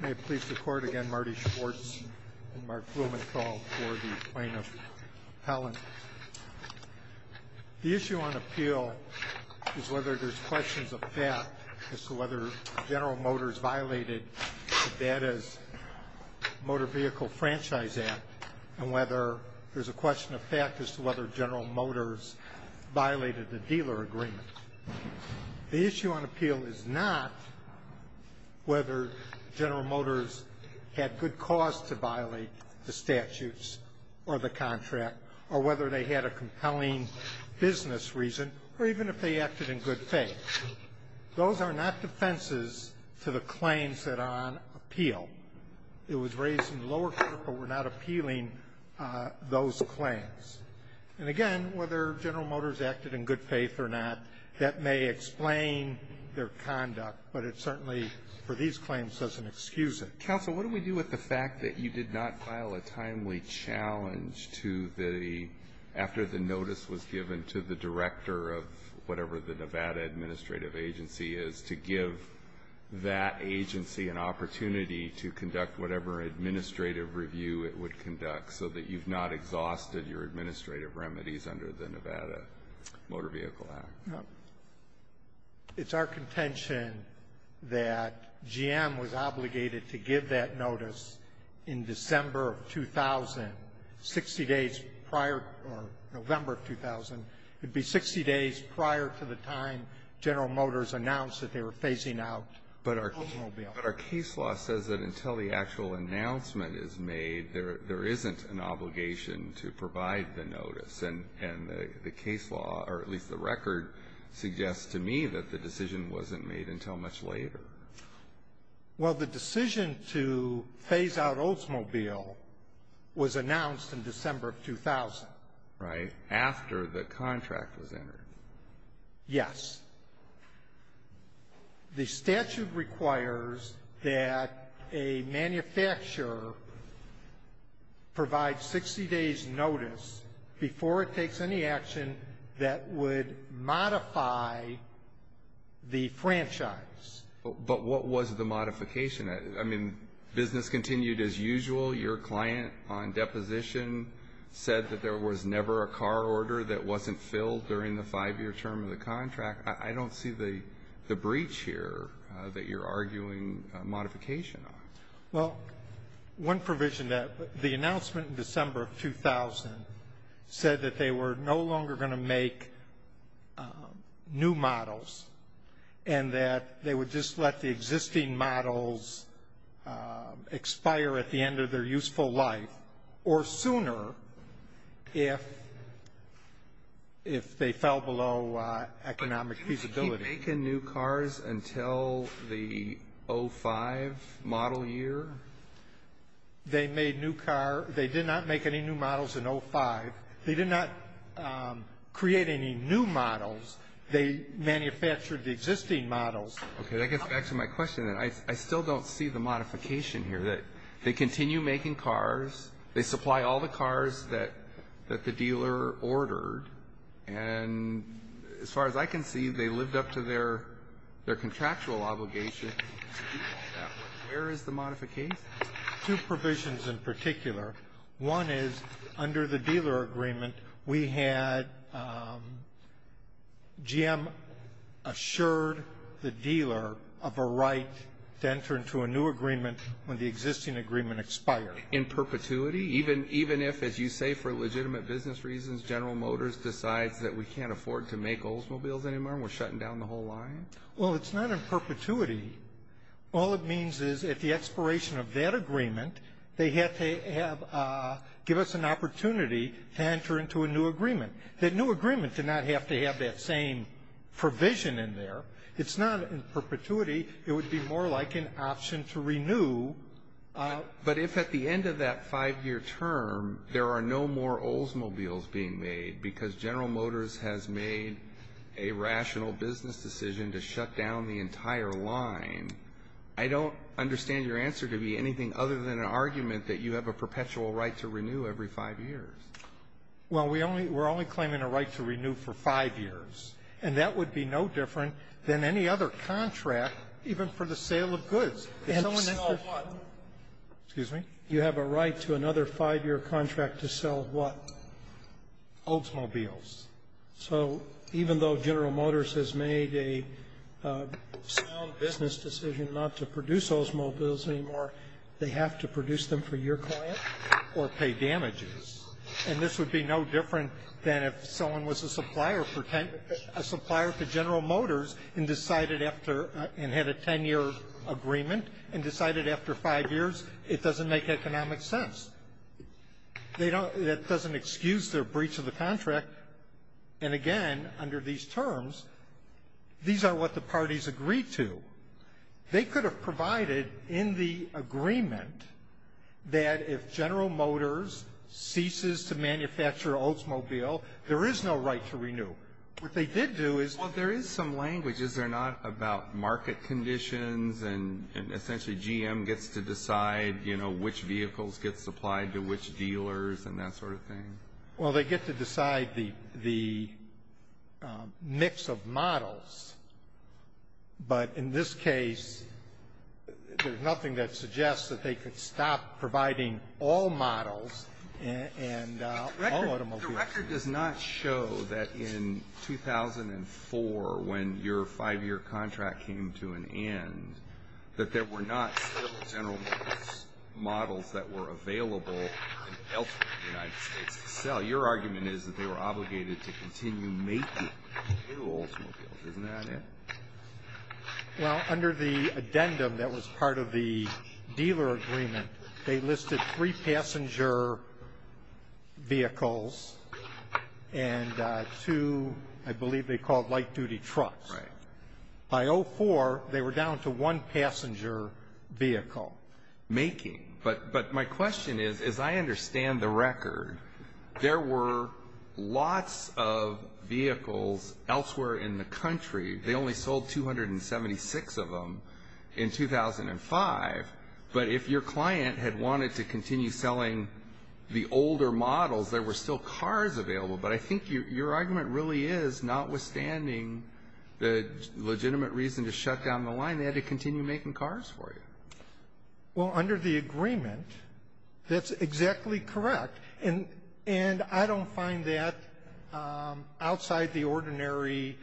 May it please the Court again, Marty Schwartz and Mark Blumenthal for the Plaintiff's Appellant. The issue on appeal is whether there's questions of fact as to whether General Motors violated Nevada's Motor Vehicle Franchise Act and whether there's a question of fact as to whether General Motors violated the dealer agreement. The issue on appeal is not whether General Motors had good cause to violate the statutes or the contract or whether they had a compelling business reason or even if they acted in good faith. Those are not defenses to the claims that are on appeal. It was raised in the lower court, but we're not appealing those claims. And again, whether General Motors acted in good faith or not, that may explain their conduct, but it certainly for these claims doesn't excuse it. Counsel, what do we do with the fact that you did not file a timely challenge to the, after the notice was given to the director of whatever the Nevada Administrative Agency is, to give that agency an opportunity to conduct whatever administrative review it would conduct so that you've not exhausted your administrative remedies under the Nevada Motor Vehicle Act? No. It's our contention that GM was obligated to give that notice in December of 2000, 60 days prior, or November of 2000. It would be 60 days prior to the time General Motors announced that they were phasing out the automobile. But our case law says that until the actual announcement is made, there isn't an obligation to provide the notice, and the case law, or at least the record, suggests to me that the decision wasn't made until much later. Well, the decision to phase out Oldsmobile was announced in December of 2000. Right. After the contract was entered. Yes. The statute requires that a manufacturer provide 60 days notice before it takes any action that would modify the franchise. But what was the modification? I mean, business continued as usual. Your client on deposition said that there was never a car order that wasn't filled during the five-year term of the contract. I don't see the breach here that you're arguing modification on. Well, one provision that the announcement in December of 2000 said that they were no longer going to make new models and that they would just let the existing models expire at the end of their useful life or sooner if they fell below economic feasibility. But didn't they keep making new cars until the 05 model year? They made new cars. They did not make any new models in 05. They did not create any new models. They manufactured the existing models. Okay. That gets back to my question. I still don't see the modification here that they continue making cars. They supply all the cars that the dealer ordered. And as far as I can see, they lived up to their contractual obligation. Where is the modification? Two provisions in particular. One is under the dealer agreement, we had GM assured the dealer of a right to enter into a new agreement when the existing agreement expired. In perpetuity? Even if, as you say, for legitimate business reasons, General Motors decides that we can't afford to make Oldsmobiles anymore and we're shutting down the whole line? Well, it's not in perpetuity. All it means is at the expiration of that agreement, they have to give us an opportunity to enter into a new agreement. That new agreement did not have to have that same provision in there. It's not in perpetuity. It would be more like an option to renew. But if at the end of that five-year term there are no more Oldsmobiles being made because General Motors has made a rational business decision to shut down the entire line, I don't understand your answer to be anything other than an argument that you have a perpetual right to renew every five years. Well, we only we're only claiming a right to renew for five years. And that would be no different than any other contract, even for the sale of goods. If you sell a what? Excuse me? You have a right to another five-year contract to sell what? Oldsmobiles. So even though General Motors has made a sound business decision not to produce Oldsmobiles anymore, they have to produce them for your client or pay damages. And this would be no different than if someone was a supplier to General Motors and had a ten-year agreement and decided after five years it doesn't make economic sense. That doesn't excuse their breach of the contract. And, again, under these terms, these are what the parties agreed to. They could have provided in the agreement that if General Motors ceases to manufacture Oldsmobile, there is no right to renew. What they did do is – Well, there is some language, is there not, about market conditions and essentially GM gets to decide, you know, which vehicles get supplied to which dealers and that sort of thing? Well, they get to decide the mix of models. But in this case, there's nothing that suggests that they could stop providing all models and all automobiles. But the record does not show that in 2004 when your five-year contract came to an end that there were not several General Motors models that were available elsewhere in the United States to sell. Your argument is that they were obligated to continue making new Oldsmobiles. Isn't that it? Well, under the addendum that was part of the dealer agreement, they listed three passenger vehicles and two, I believe they called light-duty trucks. Right. By 2004, they were down to one passenger vehicle. Making. But my question is, as I understand the record, there were lots of vehicles elsewhere in the country. They only sold 276 of them in 2005. But if your client had wanted to continue selling the older models, there were still cars available. But I think your argument really is, notwithstanding the legitimate reason to shut down the line, they had to continue making cars for you. Well, under the agreement, that's exactly correct. And I don't find that outside the ordinary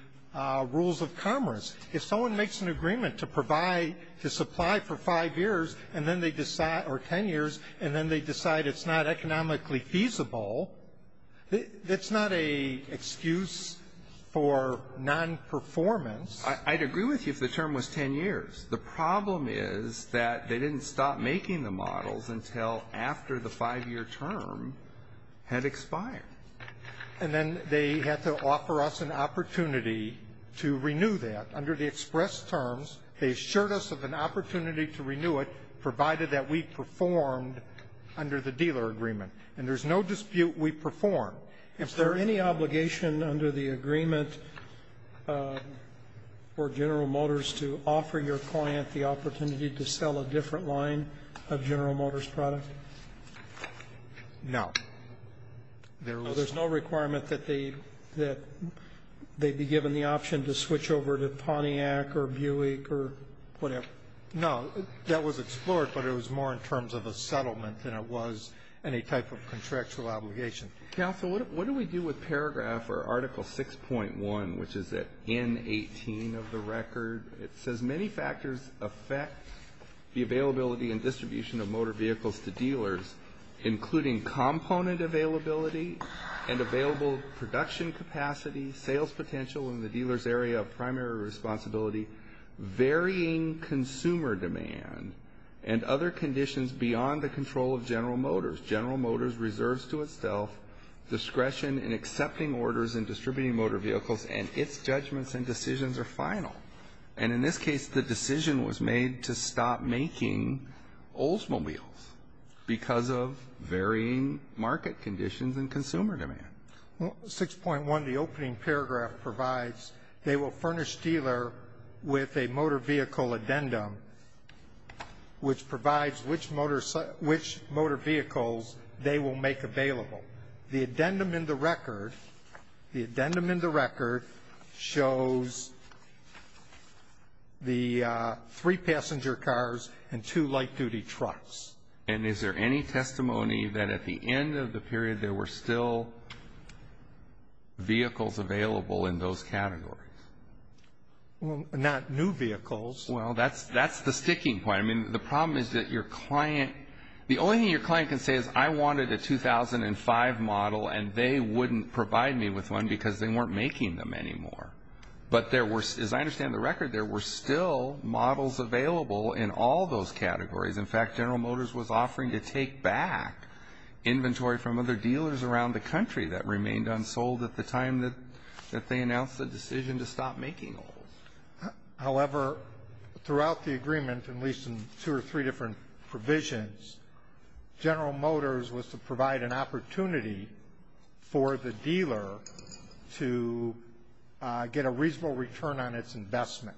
rules of commerce. If someone makes an agreement to supply for five years and then they decide or ten years and then they decide it's not economically feasible, that's not an excuse for nonperformance. I'd agree with you if the term was ten years. The problem is that they didn't stop making the models until after the five-year term had expired. And then they had to offer us an opportunity to renew that. Under the express terms, they assured us of an opportunity to renew it, provided that we performed under the dealer agreement. And there's no dispute we performed. Is there any obligation under the agreement for General Motors to offer your client the opportunity to sell a different line of General Motors product? No. There's no requirement that they be given the option to switch over to Pontiac or Buick or whatever? No. That was explored, but it was more in terms of a settlement than it was any type of contractual obligation. Counsel, what do we do with paragraph or Article 6.1, which is at N-18 of the record? It says many factors affect the availability and distribution of motor vehicles to dealers, including component availability and available production capacity, sales potential in the dealer's area of primary responsibility, varying consumer demand, and other conditions beyond the control of General Motors. General Motors reserves to itself discretion in accepting orders and distributing motor vehicles, and its judgments and decisions are final. And in this case, the decision was made to stop making Oldsmobiles because of varying market conditions and consumer demand. Well, 6.1, the opening paragraph provides they will furnish dealer with a motor vehicle addendum, which provides which motor vehicles they will make available. The addendum in the record shows the three passenger cars and two light-duty trucks. And is there any testimony that at the end of the period there were still vehicles available in those categories? Well, not new vehicles. Well, that's the sticking point. I mean, the problem is that your client, the only thing your client can say is I wanted a 2005 model and they wouldn't provide me with one because they weren't making them anymore. But there were, as I understand the record, there were still models available in all those categories. In fact, General Motors was offering to take back inventory from other dealers around the country that remained unsold at the time that they announced the decision to stop making them. However, throughout the agreement, at least in two or three different provisions, General Motors was to provide an opportunity for the dealer to get a reasonable return on its investment.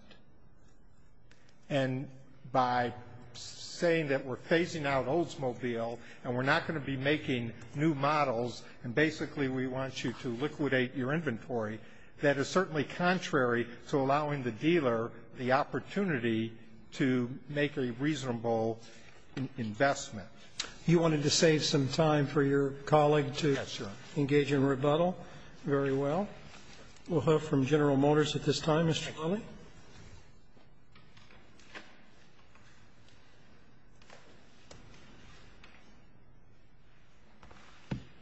And by saying that we're phasing out Oldsmobile and we're not going to be making new models and basically we want you to liquidate your inventory, that is certainly contrary to allowing the dealer the opportunity to make a reasonable investment. You wanted to save some time for your colleague to engage in rebuttal? Yes, sir. Very well. We'll hear from General Motors at this time. Mr. Lilley.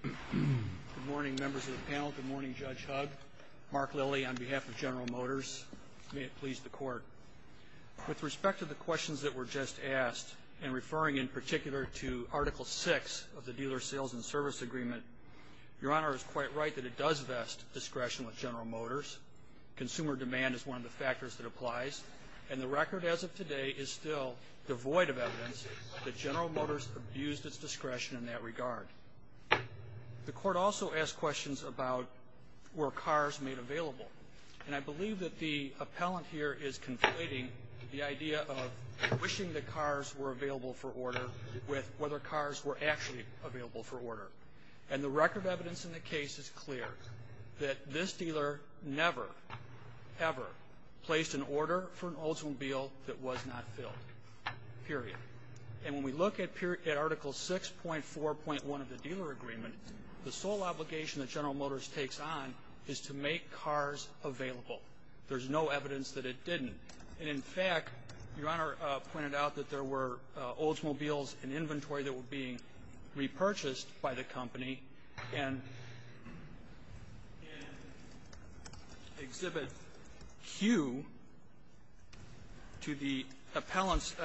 Good morning, members of the panel. Good morning, Judge Hugg. Mark Lilley on behalf of General Motors. May it please the Court. With respect to the questions that were just asked and referring in particular to Article VI of the Dealer Sales and Service Agreement, Your Honor is quite right that it does vest discretion with General Motors. Consumer demand is one of the factors that applies. And the record as of today is still devoid of evidence that General Motors abused its discretion in that regard. The Court also asked questions about were cars made available. And I believe that the appellant here is conflating the idea of wishing that cars were available for order with whether cars were actually available for order. And the record evidence in the case is clear that this dealer never, ever placed an order for an Oldsmobile that was not filled, period. And when we look at Article VI.4.1 of the Dealer Agreement, the sole obligation that General Motors takes on is to make cars available. There's no evidence that it didn't. And, in fact, Your Honor pointed out that there were Oldsmobiles in inventory that were being repurchased by the company. And in Exhibit Q to the appellant's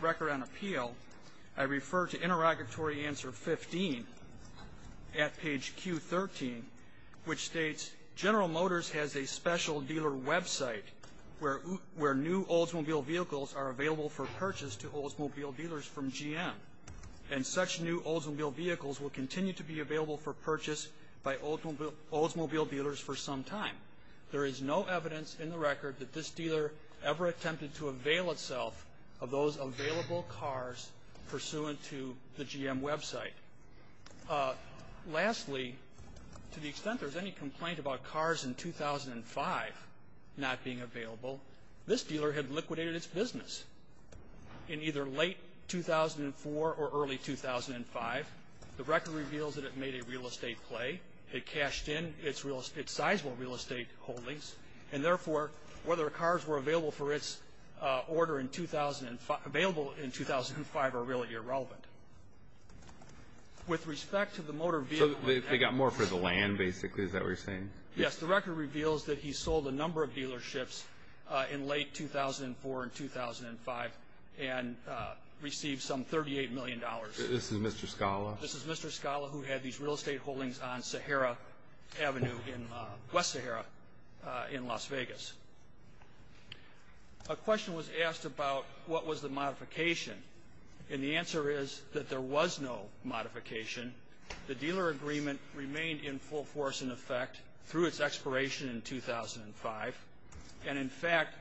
record on appeal, I refer to interrogatory answer 15 at page Q13, which states, General Motors has a special dealer website where new Oldsmobile vehicles are available for purchase to Oldsmobile dealers from GM. And such new Oldsmobile vehicles will continue to be available for purchase by Oldsmobile dealers for some time. There is no evidence in the record that this dealer ever attempted to avail itself of those available cars pursuant to the GM website. Lastly, to the extent there's any complaint about cars in 2005 not being available, this dealer had liquidated its business in either late 2004 or early 2005. The record reveals that it made a real estate play. It cashed in its sizeable real estate holdings. And, therefore, whether cars were available for its order in 2005 are really irrelevant. With respect to the motor vehicle. So they got more for the land, basically, is that what you're saying? Yes. The record reveals that he sold a number of dealerships in late 2004 and 2005 and received some $38 million. This is Mr. Scala? This is Mr. Scala who had these real estate holdings on Sahara Avenue in West Sahara in Las Vegas. A question was asked about what was the modification. And the answer is that there was no modification. The dealer agreement remained in full force, in effect, through its expiration in 2005. And, in fact,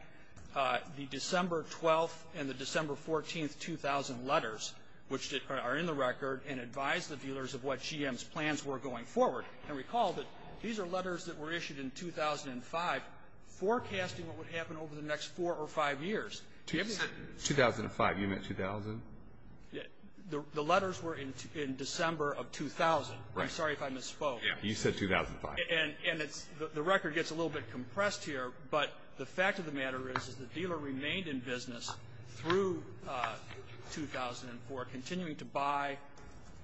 the December 12th and the December 14th, 2000 letters, which are in the record and advised the dealers of what GM's plans were going forward. And recall that these are letters that were issued in 2005 forecasting what would happen over the next four or five years. 2005. You meant 2000? The letters were in December of 2000. I'm sorry if I misspoke. You said 2005. And the record gets a little bit compressed here. But the fact of the matter is that the dealer remained in business through 2004, continuing to buy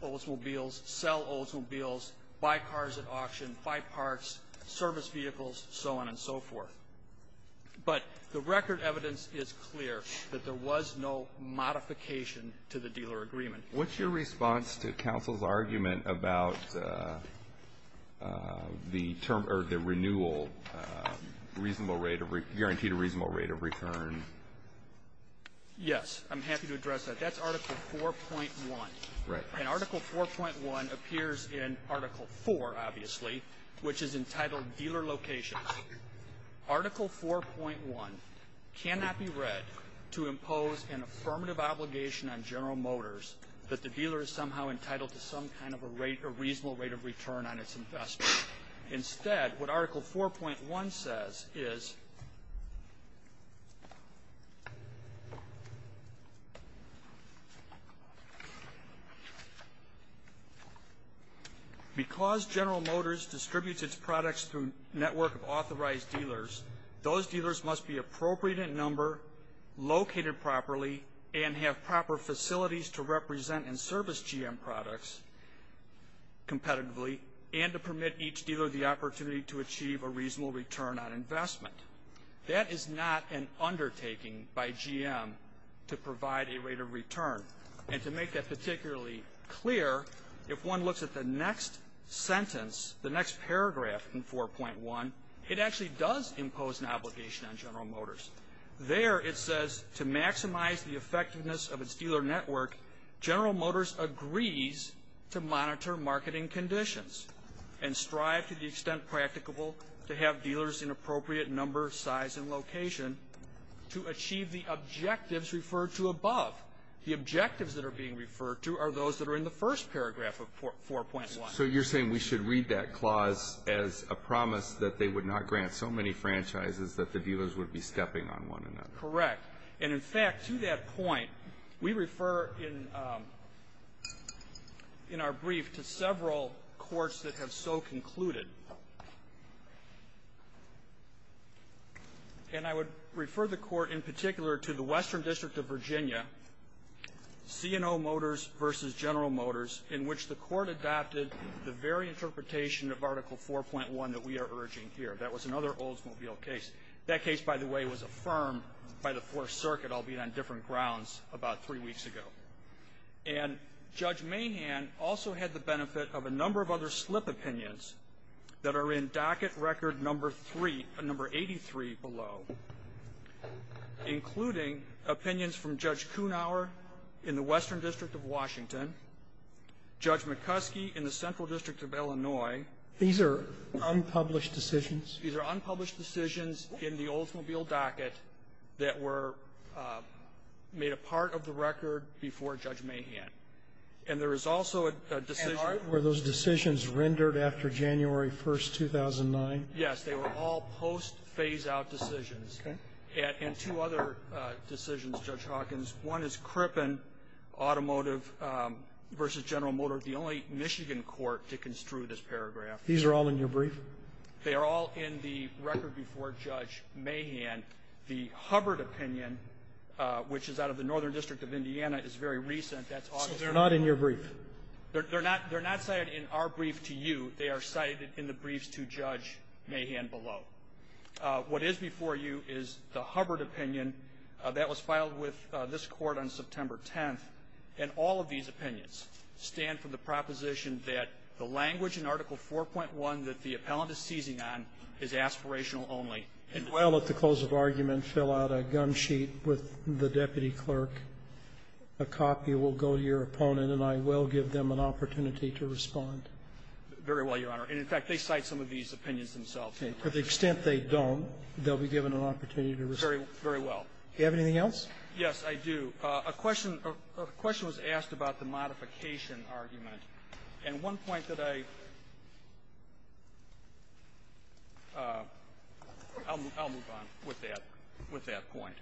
Oldsmobiles, sell Oldsmobiles, buy cars at auction, buy parks, service vehicles, so on and so forth. But the record evidence is clear that there was no modification to the dealer agreement. What's your response to counsel's argument about the renewal guaranteed a reasonable rate of return? Yes. I'm happy to address that. That's Article 4.1. And Article 4.1 appears in Article 4, obviously, which is entitled Dealer Locations. Article 4.1 cannot be read to impose an affirmative obligation on General Motors that the dealer is somehow entitled to some kind of a reasonable rate of return on its investment. Instead, what Article 4.1 says is, because General Motors distributes its products through a network of authorized dealers, those dealers must be appropriate in number, located properly, and have proper facilities to represent and service GM products competitively and to permit each dealer the opportunity to achieve a reasonable return on investment. That is not an undertaking by GM to provide a rate of return. And to make that particularly clear, if one looks at the next sentence, the next paragraph in 4.1, it actually does impose an obligation on General Motors. There it says, to maximize the effectiveness of its dealer network, General Motors agrees to monitor marketing conditions and strive to the extent practicable to have dealers in appropriate number, size, and location to achieve the objectives referred to above. The objectives that are being referred to are those that are in the first paragraph of 4.1. So you're saying we should read that clause as a promise that they would not grant so many franchises that the dealers would be stepping on one another. Correct. And, in fact, to that point, we refer in our brief to several courts that have so concluded. And I would refer the Court in particular to the Western District of Virginia, C&O Motors v. General Motors, in which the Court adopted the very interpretation of Article 4.1 that we are urging here. That was another Oldsmobile case. That case, by the way, was affirmed by the Fourth Circuit, albeit on different grounds, about three weeks ago. And Judge Mahan also had the benefit of a number of other slip opinions that are in docket record number 3, number 83 below, including opinions from Judge Kunauer in the Western District of Washington, Judge McCuskey in the Central District of Illinois. These are unpublished decisions? These are unpublished decisions in the Oldsmobile docket that were made a part of the record before Judge Mahan. And there is also a decision that was rendered after January 1, 2009? Yes. They were all post-phase-out decisions. Okay. And two other decisions, Judge Hawkins. One is Crippen Automotive v. General Motors, the only Michigan court to construe this paragraph. These are all in your brief? They are all in the record before Judge Mahan. The Hubbard opinion, which is out of the Northern District of Indiana, is very recent. That's August 1. So they're not in your brief? They're not cited in our brief to you. They are cited in the briefs to Judge Mahan below. What is before you is the Hubbard opinion that was filed with this Court on September 10th. And all of these opinions stand for the proposition that the language in Article 4.1 that the appellant is seizing on is aspirational only. Well, at the close of argument, fill out a gun sheet with the deputy clerk. A copy will go to your opponent, and I will give them an opportunity to respond. Very well, Your Honor. And, in fact, they cite some of these opinions themselves. Okay. To the extent they don't, they'll be given an opportunity to respond. Very well. Do you have anything else? Yes, I do. A question was asked about the modification argument. And one point that I — I'll move on with that — with that point.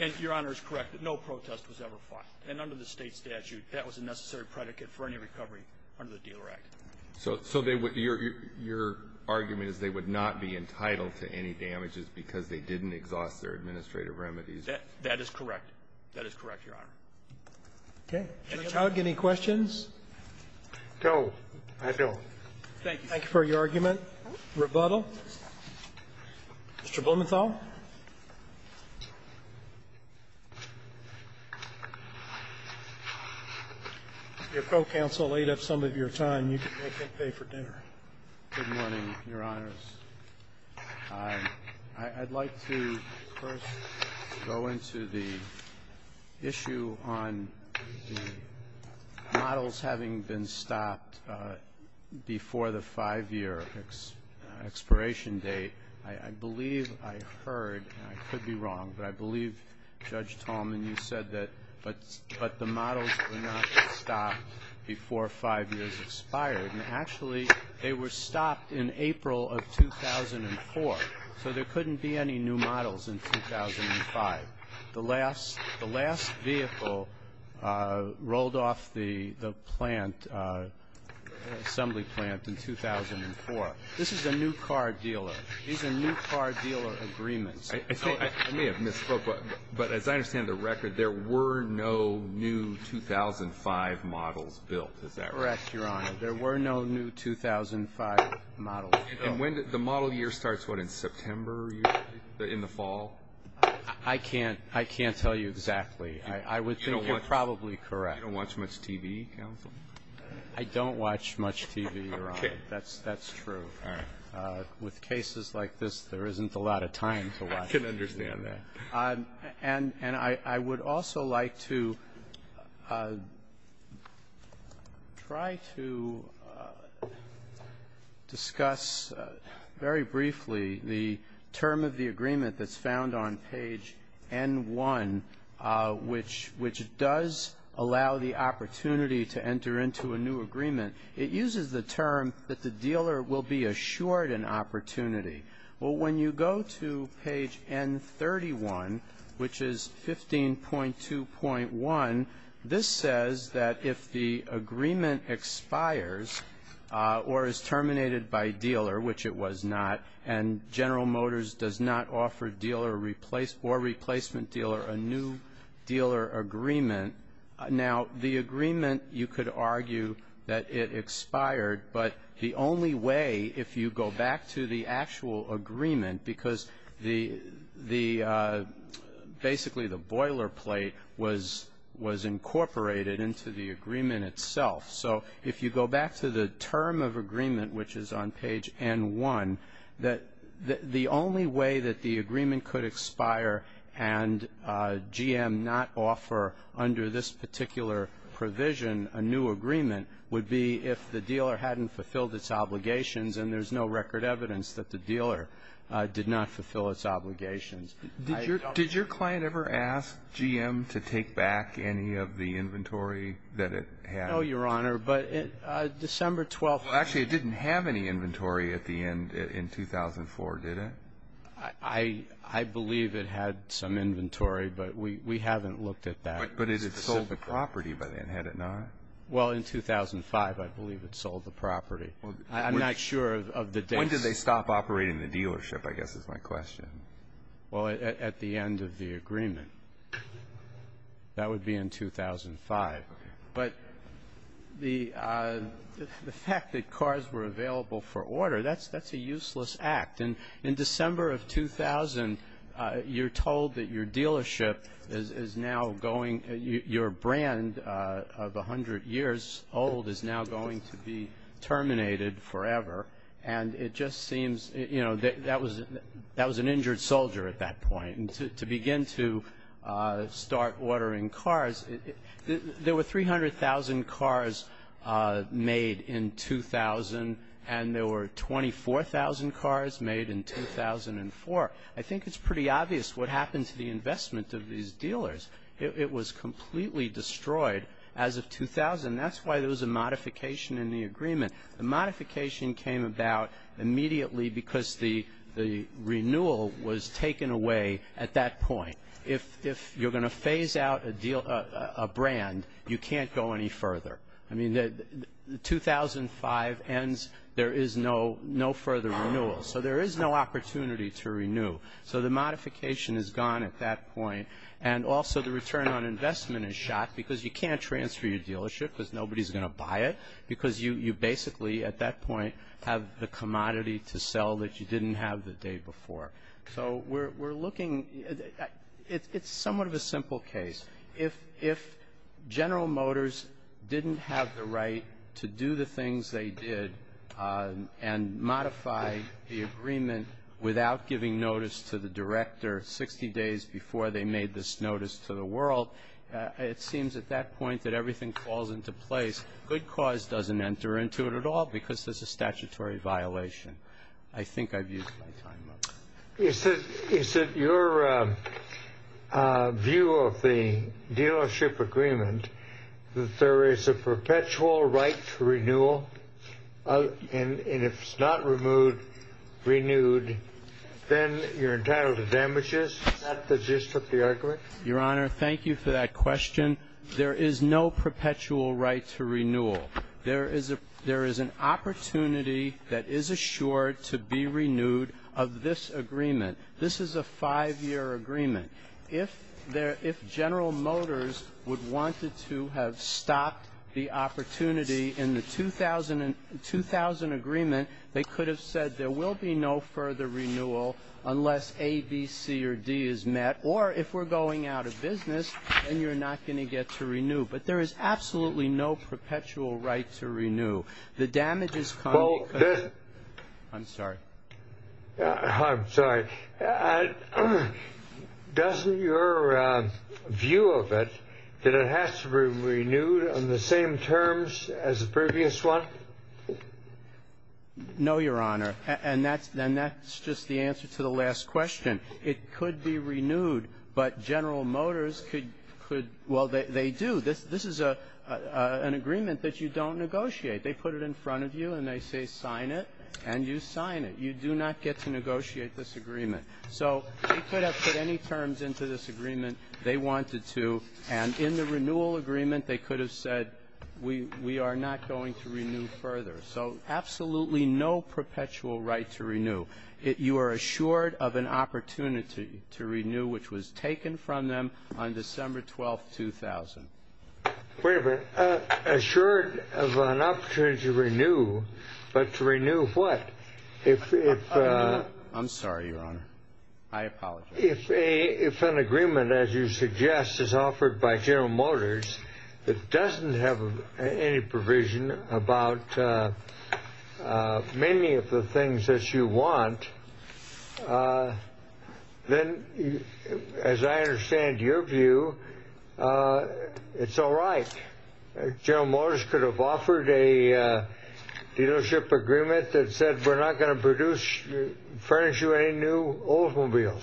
And, Your Honor, it's correct that no protest was ever filed. And under the State statute, that was a necessary predicate for any recovery under the Dealer Act. So they would — your argument is they would not be entitled to any damages because they didn't exhaust their administrative remedies? That is correct. That is correct, Your Honor. Okay. Mr. Choud, any questions? No, I don't. Thank you. Thank you for your argument. Rebuttal. Mr. Blumenthal. Your co-counsel laid up some of your time. You can make him pay for dinner. Good morning, Your Honors. I'd like to first go into the issue on the models having been stopped before the 5-year expiration date. I believe I heard, and I could be wrong, but I believe, Judge Tallman, you said that — but the models were not stopped before 5 years expired. And actually, they were stopped in April of 2004. So there couldn't be any new models in 2005. The last vehicle rolled off the plant, the assembly plant, in 2004. This is a new car dealer. These are new car dealer agreements. I may have misspoke, but as I understand the record, there were no new 2005 models built. Is that right? Yes, Your Honor. There were no new 2005 models built. And when did — the model year starts, what, in September, usually, in the fall? I can't tell you exactly. I would think you're probably correct. You don't watch much TV, counsel? I don't watch much TV, Your Honor. Okay. That's true. All right. With cases like this, there isn't a lot of time to watch TV. I can understand that. And I would also like to try to discuss very briefly the term of the agreement that's found on page N-1, which does allow the opportunity to enter into a new agreement. It uses the term that the dealer will be assured an opportunity. Well, when you go to page N-31, which is 15.2.1, this says that if the agreement expires or is terminated by dealer, which it was not, and General Motors does not offer dealer or replacement dealer a new dealer agreement. Now, the agreement, you could argue that it expired. But the only way, if you go back to the actual agreement, because basically the boilerplate was incorporated into the agreement itself. So if you go back to the term of agreement, which is on page N-1, the only way that the agreement could expire and GM not offer, under this particular provision, a new agreement would be if the dealer hadn't fulfilled its obligations and there's no record evidence that the dealer did not fulfill its obligations. Did your client ever ask GM to take back any of the inventory that it had? No, Your Honor, but December 12th. Actually, it didn't have any inventory at the end in 2004, did it? I believe it had some inventory, but we haven't looked at that. But it had sold the property by then, had it not? Well, in 2005, I believe it sold the property. I'm not sure of the dates. When did they stop operating the dealership, I guess is my question? Well, at the end of the agreement. That would be in 2005. But the fact that cars were available for order, that's a useless act. And in December of 2000, you're told that your dealership is now going, your brand of 100 years old is now going to be terminated forever. And it just seems, you know, that was an injured soldier at that point. And to begin to start ordering cars, there were 300,000 cars made in 2000, and there were 24,000 cars made in 2004. I think it's pretty obvious what happened to the investment of these dealers. It was completely destroyed as of 2000. That's why there was a modification in the agreement. The modification came about immediately because the renewal was taken away at that point. If you're going to phase out a brand, you can't go any further. I mean, 2005 ends, there is no further renewal. So there is no opportunity to renew. So the modification is gone at that point. And also the return on investment is shot because you can't transfer your dealership because nobody is going to buy it because you basically, at that point, have the commodity to sell that you didn't have the day before. So we're looking, it's somewhat of a simple case. If General Motors didn't have the right to do the things they did and modify the agreement without giving notice to the director 60 days before they made this notice to the world, it seems at that point that everything falls into place. Good Cause doesn't enter into it at all because it's a statutory violation. I think I've used my time up. Is it your view of the dealership agreement that there is a perpetual right to renewal? And if it's not renewed, then you're entitled to damages? Is that the gist of the argument? Your Honor, thank you for that question. There is no perpetual right to renewal. There is an opportunity that is assured to be renewed of this agreement. This is a five-year agreement. If General Motors would have wanted to have stopped the opportunity in the 2000 agreement, they could have said there will be no further renewal unless A, B, C, or D is met. Or if we're going out of business, then you're not going to get to renew. But there is absolutely no perpetual right to renew. The damages come. I'm sorry. I'm sorry. Doesn't your view of it that it has to be renewed on the same terms as the previous one? No, Your Honor. And that's just the answer to the last question. It could be renewed, but General Motors could – well, they do. This is an agreement that you don't negotiate. They put it in front of you, and they say sign it, and you sign it. You do not get to negotiate this agreement. So they could have put any terms into this agreement they wanted to, and in the renewal agreement, they could have said we are not going to renew further. So absolutely no perpetual right to renew. You are assured of an opportunity to renew, which was taken from them on December 12, 2000. Wait a minute. Assured of an opportunity to renew, but to renew what? I'm sorry, Your Honor. I apologize. If an agreement, as you suggest, is offered by General Motors that doesn't have any provision about many of the things that you want, then, as I understand your view, it's all right. General Motors could have offered a dealership agreement that said we're not going to produce – furnish you any new Oldsmobiles.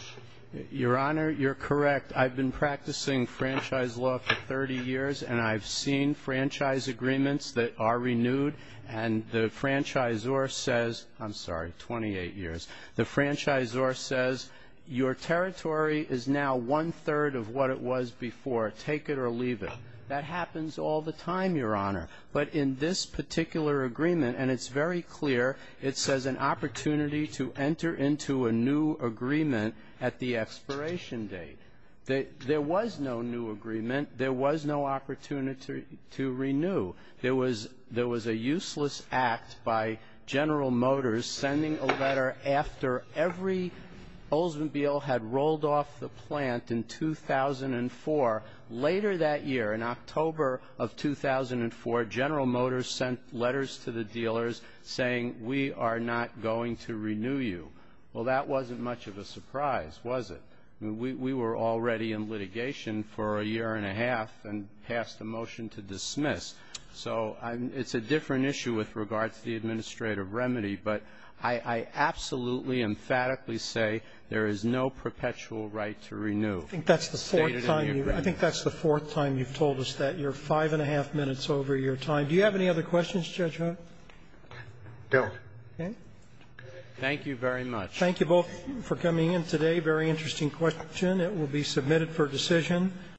Your Honor, you're correct. I've been practicing franchise law for 30 years, and I've seen franchise agreements that are renewed, and the franchisor says – I'm sorry, 28 years. The franchisor says your territory is now one-third of what it was before. Take it or leave it. That happens all the time, Your Honor. But in this particular agreement, and it's very clear, it says an opportunity to enter into a new agreement at the expiration date. There was no new agreement. There was no opportunity to renew. There was a useless act by General Motors sending a letter after every Oldsmobile had rolled off the plant in 2004. Later that year, in October of 2004, General Motors sent letters to the dealers saying we are not going to renew you. Well, that wasn't much of a surprise, was it? I mean, we were already in litigation for a year and a half and passed a motion to dismiss. So it's a different issue with regard to the administrative remedy, but I absolutely emphatically say there is no perpetual right to renew stated in the agreement. I think that's the fourth time you've told us that. You're five and a half minutes over your time. Do you have any other questions, Judge Hunt? No. Okay. Thank you very much. Thank you both for coming in today. Very interesting question. It will be submitted for decision.